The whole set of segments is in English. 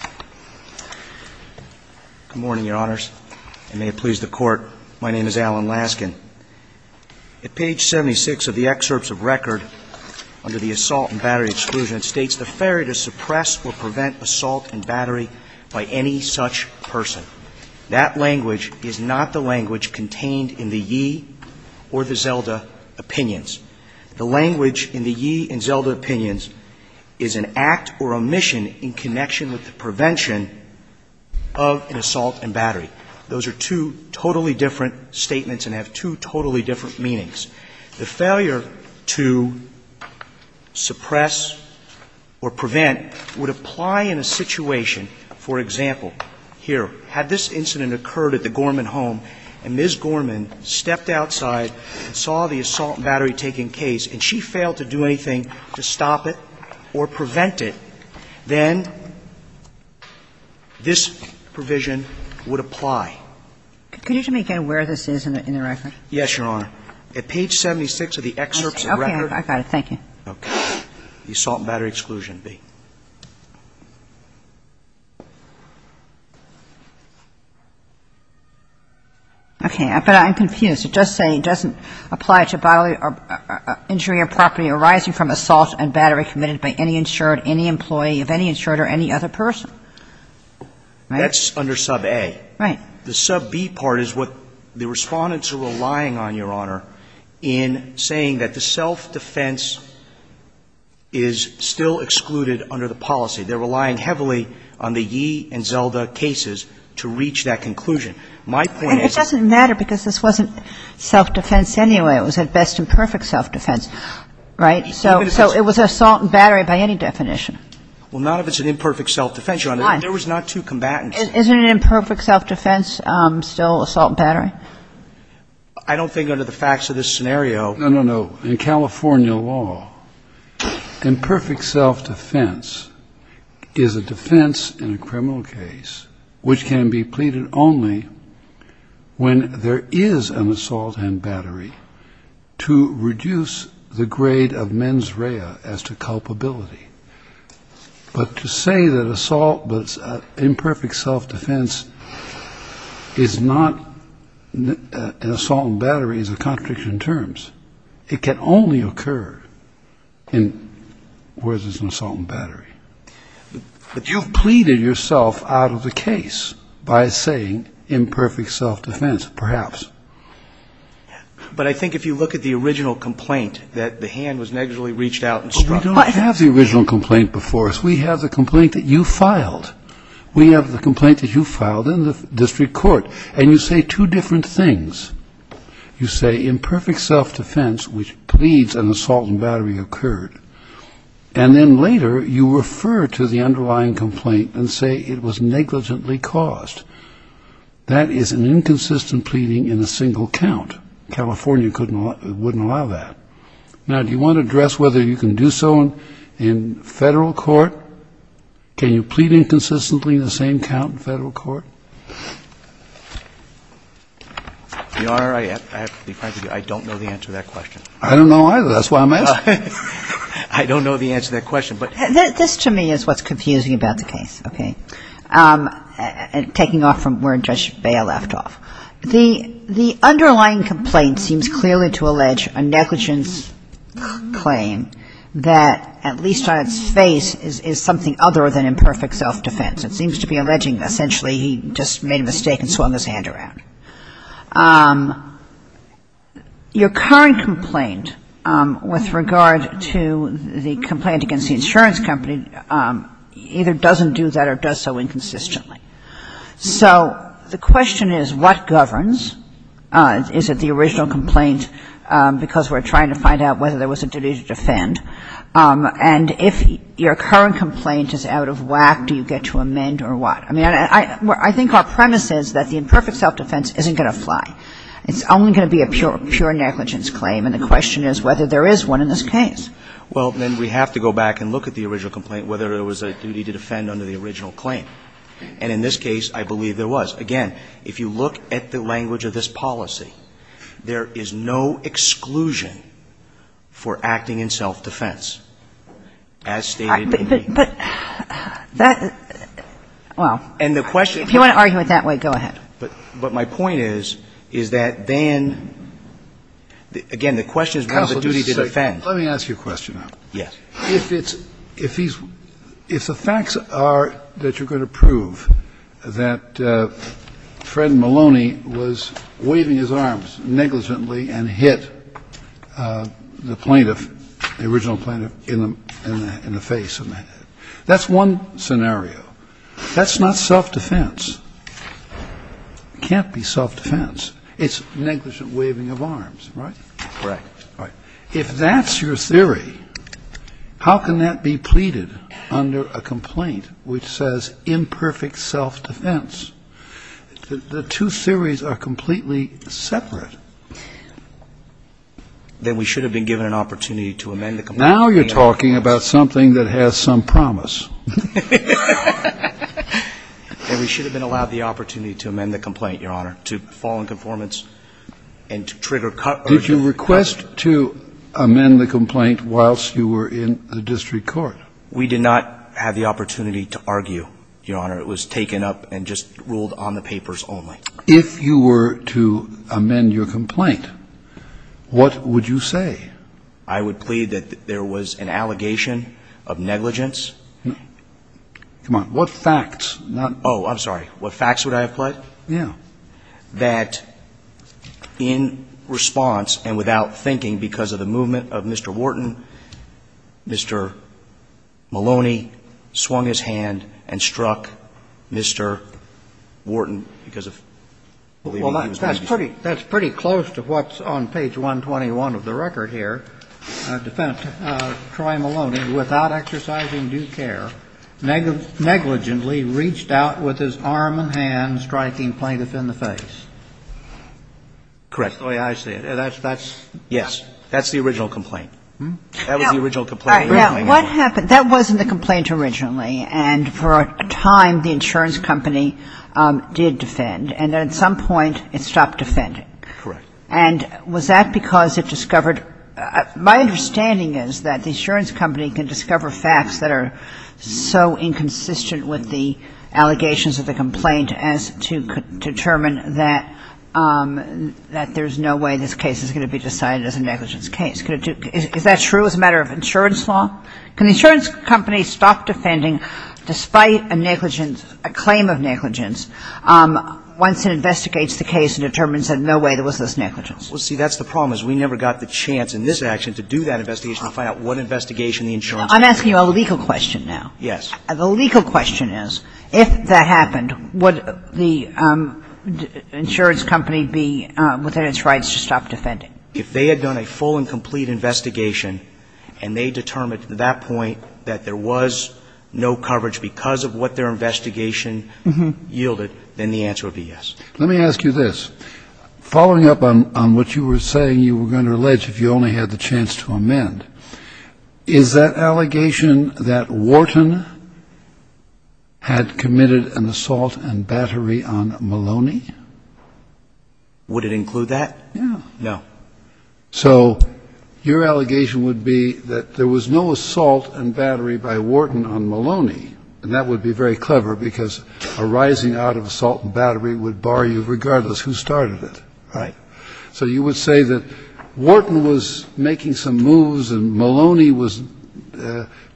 Good morning, Your Honors, and may it please the Court, my name is Alan Laskin. At page 76 of the Excerpts of Record under the Assault and Battery Exclusion, it states the failure to suppress or prevent assault and battery by any such person. That language is not the language contained in the Yee or the Zelda Opinions. The language in the Yee and Zelda of an assault and battery. Those are two totally different statements and have two totally different meanings. The failure to suppress or prevent would apply in a situation, for example, here, had this incident occurred at the Gorman home and Ms. Gorman stepped outside and saw the assault and battery taking case and she failed to do anything to stop it or prevent it, then this provision would apply. Could you tell me again where this is in the record? Yes, Your Honor. At page 76 of the Excerpts of Record. Okay. I got it. Thank you. Okay. The Assault and Battery Exclusion, B. Okay. But I'm confused. It does say it doesn't apply to bodily injury or property assault and battery committed by any insured, any employee of any insured or any other person. That's under sub A. Right. The sub B part is what the Respondents are relying on, Your Honor, in saying that the self-defense is still excluded under the policy. They're relying heavily on the Yee and Zelda cases to reach that conclusion. My point is that the Yee and Zelda cases are still excluded under the policy, but it's still an assault and battery case, and it's still an assault and battery case, and it's still an imperfect self-defense case, right? So it was assault and battery by any definition. Well, not if it's an imperfect self-defense, Your Honor. There was not two combatants. Isn't an imperfect self-defense still assault and battery? I don't think under the facts of this scenario. No, no, no. In California law, imperfect self-defense is a defense in a criminal case which can be pleaded only when there is an assault and battery to reduce the grade of mens rea as to culpability. But to say that assault but imperfect self-defense is not an assault and battery is a contradiction in terms. It can only occur where there's an assault and battery. But you've pleaded yourself out of the case by saying imperfect self-defense, perhaps. But I think if you look at the original complaint that the hand was negligibly reached out and struck. We don't have the original complaint before us. We have the complaint that you filed in the district court. And you say two different things. You say imperfect self-defense, which pleads an assault and battery occurred. And then later you refer to the underlying complaint and say it was negligently caused. That is an inconsistent pleading in a single count. California wouldn't allow that. Now, do you want to address whether you can do so in federal court? Can you plead inconsistently in the same count in federal court? Your Honor, I have to be frank with you. I don't know the answer to that question. I don't know either. That's why I'm asking. I don't know the answer to that question. This to me is what's confusing about the case. Okay? Taking off from where Judge Baya left off. The underlying complaint seems clearly to allege a negligence claim that at least on its face is something other than imperfect self-defense. It seems to be alleging essentially he just made a mistake and swung his hand around. Your current complaint with regard to the complaint against the insurance company either doesn't do that or does so inconsistently. So the question is what governs? Is it the original complaint because we're trying to find out whether there was a duty to defend? And if your current complaint is out of whack, do you get to amend or what? I mean, I think our premise is that the imperfect self-defense isn't going to fly. It's only going to be a pure negligence claim. And the question is whether there is one in this case. Well, then we have to go back and look at the original complaint, whether there was a duty to defend under the original claim. And in this case, I believe there was. Again, if you look at the language of this policy, there is no exclusion for acting in self-defense, as stated in the complaint. But that, well. And the question. If you want to argue it that way, go ahead. But my point is, is that then, again, the question is whether there was a duty to defend. Counsel, just a second. Let me ask you a question now. Yes. If the facts are that you're going to prove that Fred Maloney was waving his arms negligently and hit the plaintiff, the original plaintiff, in the face. That's one scenario. That's not self-defense. It can't be self-defense. It's negligent waving of arms, right? Correct. Right. If that's your theory, how can that be pleaded under a complaint which says imperfect self-defense? The two theories are completely separate. Then we should have been given an opportunity to amend the complaint. Now you're talking about something that has some promise. Then we should have been allowed the opportunity to amend the complaint, Your Honor, to fall in conformance and to trigger urgent. Did you request to amend the complaint whilst you were in the district court? We did not have the opportunity to argue, Your Honor. It was taken up and just ruled on the papers only. If you were to amend your complaint, what would you say? I would plead that there was an allegation of negligence. Come on. What facts? Oh, I'm sorry. What facts would I have pled? Yeah. That in response and without thinking because of the movement of Mr. Wharton, Mr. Maloney swung his hand and struck Mr. Wharton because of believing he was going to be sued. That's pretty close to what's on page 121 of the record here. Defendant Troy Maloney, without exercising due care, negligently reached out with his arm and hand, striking plaintiff in the face. Correct. That's the way I see it. Yes. That's the original complaint. That was the original complaint. All right. Now, what happened? That wasn't the complaint originally. And for a time the insurance company did defend. And at some point it stopped defending. Correct. And was that because it discovered my understanding is that the insurance company can discover facts that are so inconsistent with the allegations of the complaint as to determine that there's no way this case is going to be decided as a negligence case. Is that true as a matter of insurance law? Can the insurance company stop defending despite a negligence, a claim of negligence once it investigates the case and determines that no way there was this negligence? Well, see, that's the problem is we never got the chance in this action to do that investigation. I'm asking you a legal question now. Yes. The legal question is, if that happened, would the insurance company be within its rights to stop defending? If they had done a full and complete investigation and they determined at that point that there was no coverage because of what their investigation yielded, then the answer would be yes. Let me ask you this. Following up on what you were saying, you were going to allege if you only had the chance to amend, is that allegation that Wharton had committed an assault and battery on Maloney? Would it include that? Yeah. No. So your allegation would be that there was no assault and battery by Wharton on Maloney, and that would be very clever because a rising out of assault and battery would bar you regardless who started it. Right. So you would say that Wharton was making some moves and Maloney was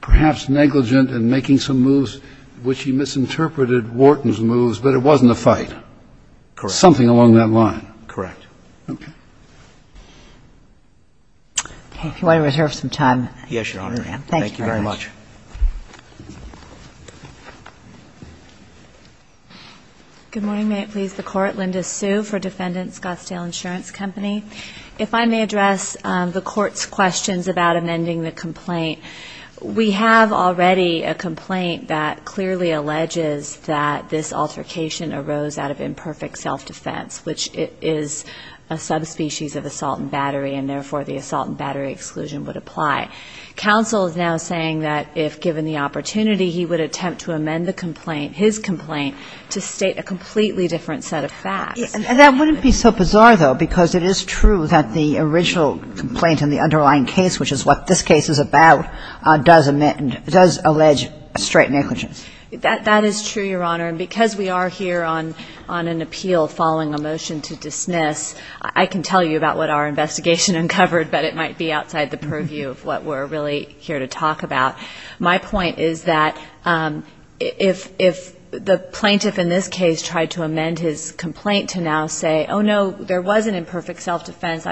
perhaps negligent in making some moves, which he misinterpreted Wharton's moves, but it wasn't a fight. Correct. Something along that line. Correct. Okay. Okay. If you want to reserve some time. Yes, Your Honor. Thank you very much. Thank you very much. Good morning. Good morning. May it please the Court. Linda Sue for Defendant Scottsdale Insurance Company. If I may address the Court's questions about amending the complaint. We have already a complaint that clearly alleges that this altercation arose out of imperfect self-defense, which is a subspecies of assault and battery, and therefore the assault and battery exclusion would apply. And the complaint, his complaint, to state a completely different set of facts. That wouldn't be so bizarre, though, because it is true that the original complaint in the underlying case, which is what this case is about, does allege straight negligence. That is true, Your Honor, and because we are here on an appeal following a motion to dismiss, I can tell you about what our investigation uncovered, but it might be outside the purview of what we're really here to talk about. My point is that if the plaintiff in this case tried to amend his complaint to now say, oh, no, there was an imperfect self-defense,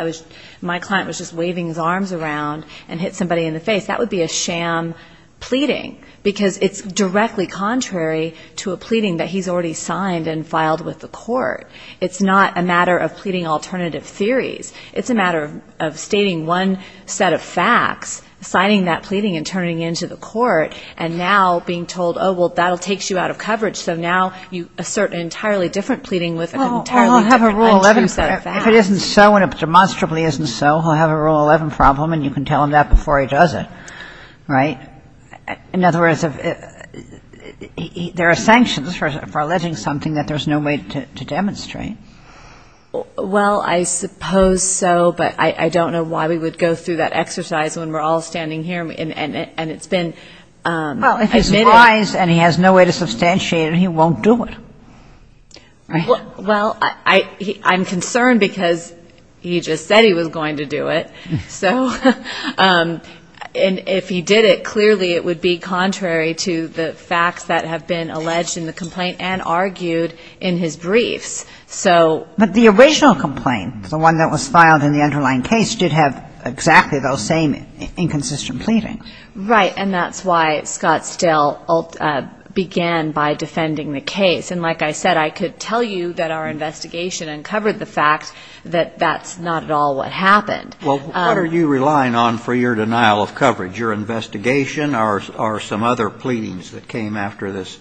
my client was just waving his arms around and hit somebody in the face, that would be a sham pleading, because it's directly contrary to a pleading that he's already signed and filed with the Court. It's not a matter of pleading alternative theories. It's a matter of stating one set of facts, signing that pleading and returning it to the Court, and now being told, oh, well, that takes you out of coverage, so now you assert an entirely different pleading with an Well, he'll have a Rule 11. If it isn't so and it demonstrably isn't so, he'll have a Rule 11 problem, and you can tell him that before he does it, right? In other words, there are sanctions for alleging something that there's no way to demonstrate. Well, I suppose so, but I don't know why we would go through that and it's been admitted. Well, if he's wise and he has no way to substantiate it, he won't do it, right? Well, I'm concerned because he just said he was going to do it, so, and if he did it, clearly it would be contrary to the facts that have been alleged in the complaint and argued in his briefs, so But the original complaint, the one that was filed in the underlying case, did have exactly those same inconsistent pleadings. Right, and that's why Scott still began by defending the case. And like I said, I could tell you that our investigation uncovered the fact that that's not at all what happened. Well, what are you relying on for your denial of coverage? Your investigation or some other pleadings that came after this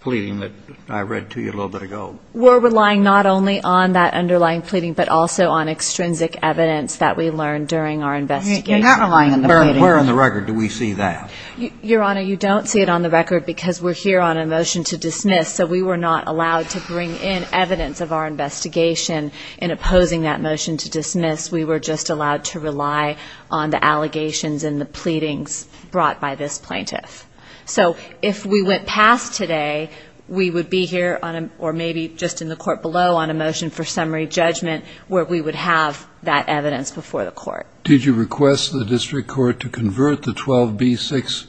pleading that I read to you a little bit ago? We're relying not only on that underlying pleading, but also on extrinsic evidence that we learned during our investigation. You're not relying on the pleading. Where on the record do we see that? Your Honor, you don't see it on the record because we're here on a motion to dismiss, so we were not allowed to bring in evidence of our investigation in opposing that motion to dismiss, we were just allowed to rely on the allegations and the pleadings brought by this plaintiff. So, if we went past today, we would be here on a, or maybe just in the court below, on a motion for summary judgment where we would have that evidence before the court. Did you request the district court to convert the 12B6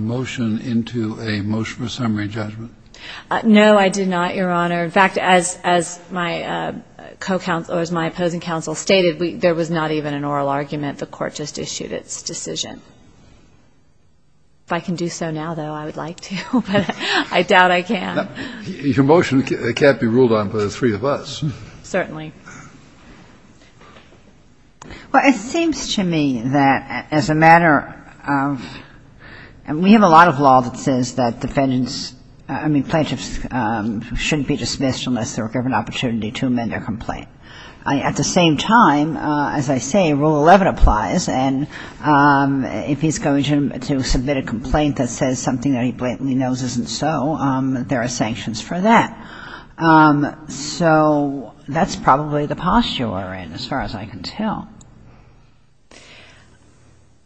motion into a motion for summary judgment? No, I did not, Your Honor. In fact, as my co-counsel, or as my opposing counsel stated, there was not even an oral argument. The court just issued its decision. If I can do so now, though, I would like to, but I doubt I can. Your motion can't be ruled on by the three of us. Certainly. Well, it seems to me that as a matter of, we have a lot of law that says that defendants, I mean, plaintiffs shouldn't be dismissed unless they're given an opportunity to amend their complaint. At the same time, as I say, Rule 11 applies, and if he's going to submit a complaint that says something that he blatantly knows isn't so, there are sanctions for that. So that's probably the posture we're in, as far as I can tell.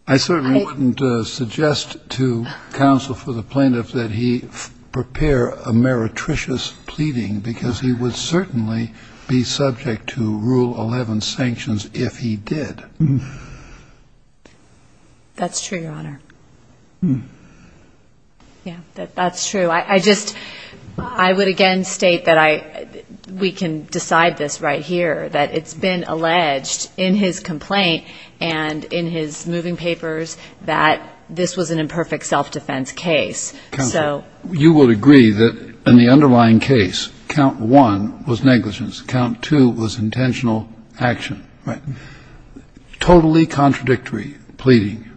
I certainly wouldn't suggest to counsel for the plaintiff that he prepare a meretricious pleading, because he would certainly be subject to Rule 11 sanctions if he did. That's true, Your Honor. Yeah, that's true. I just, I would again state that I, we can decide this right here, that it's been alleged in his complaint and in his moving papers that this was an imperfect self-defense case. Counsel, you would agree that in the underlying case, count one was negligence, count two was intentional action. Right. Totally contradictory pleading.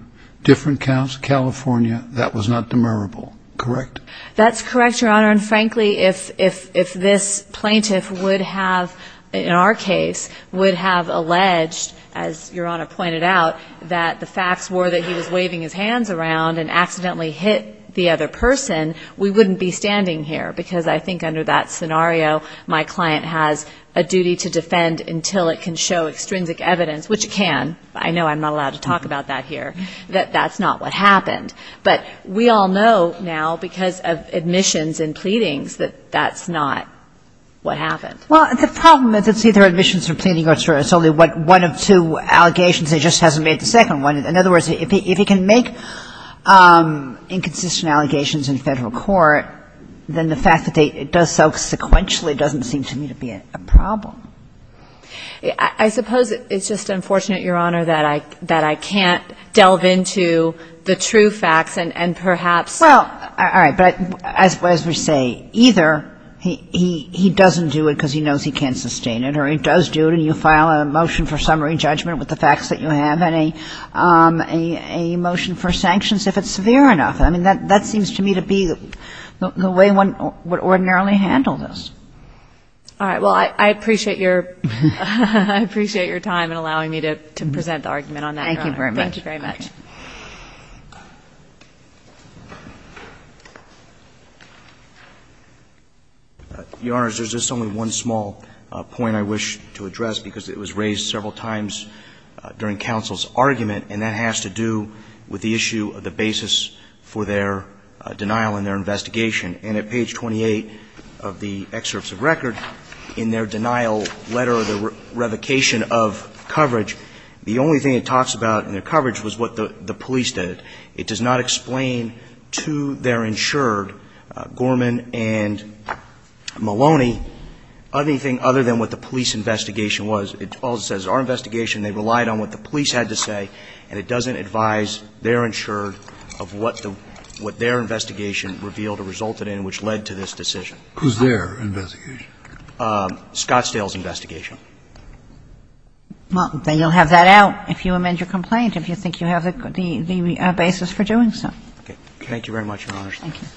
Different counts, California, that was not demurrable. Correct? That's correct, Your Honor. And frankly, if this plaintiff would have, in our case, would have alleged, as Your Honor pointed out, that the facts were that he was waving his hands around and accidentally hit the other person, we wouldn't be standing here, because I think under that scenario, my client has a duty to defend until it can show extrinsic evidence, which it can. I know I'm not allowed to talk about that here, that that's not what happened. But we all know now, because of admissions and pleadings, that that's not what happened. Well, the problem is it's either admissions or pleading, or it's only one of two allegations. It just hasn't made the second one. In other words, if he can make inconsistent allegations in federal court, then the fact that it does so sequentially doesn't seem to me to be a problem. I suppose it's just unfortunate, Your Honor, that I can't delve into the true facts, and perhaps ---- Well, all right. But as we say, either he doesn't do it because he knows he can't sustain it, or he does do it and you file a motion for summary judgment with the facts that you have, and a motion for sanctions if it's severe enough. I mean, that seems to me to be the way one would ordinarily handle this. All right. Well, I appreciate your time in allowing me to present the argument on that, Your Honor. Thank you very much. Thank you very much. Your Honors, there's just only one small point I wish to address, because it was raised several times during counsel's argument, and that has to do with the issue of the basis for their denial in their investigation. And at page 28 of the excerpts of record, it says, in their denial letter, the revocation of coverage, the only thing it talks about in their coverage was what the police did. It does not explain to their insured, Gorman and Maloney, anything other than what the police investigation was. It also says, our investigation, they relied on what the police had to say, and it doesn't advise their insured of what their investigation revealed or resulted in which led to this decision. Who's their investigation? Scottsdale's investigation. Well, then you'll have that out if you amend your complaint, if you think you have the basis for doing so. Okay. Thank you very much, Your Honors. Thank you. Thank you.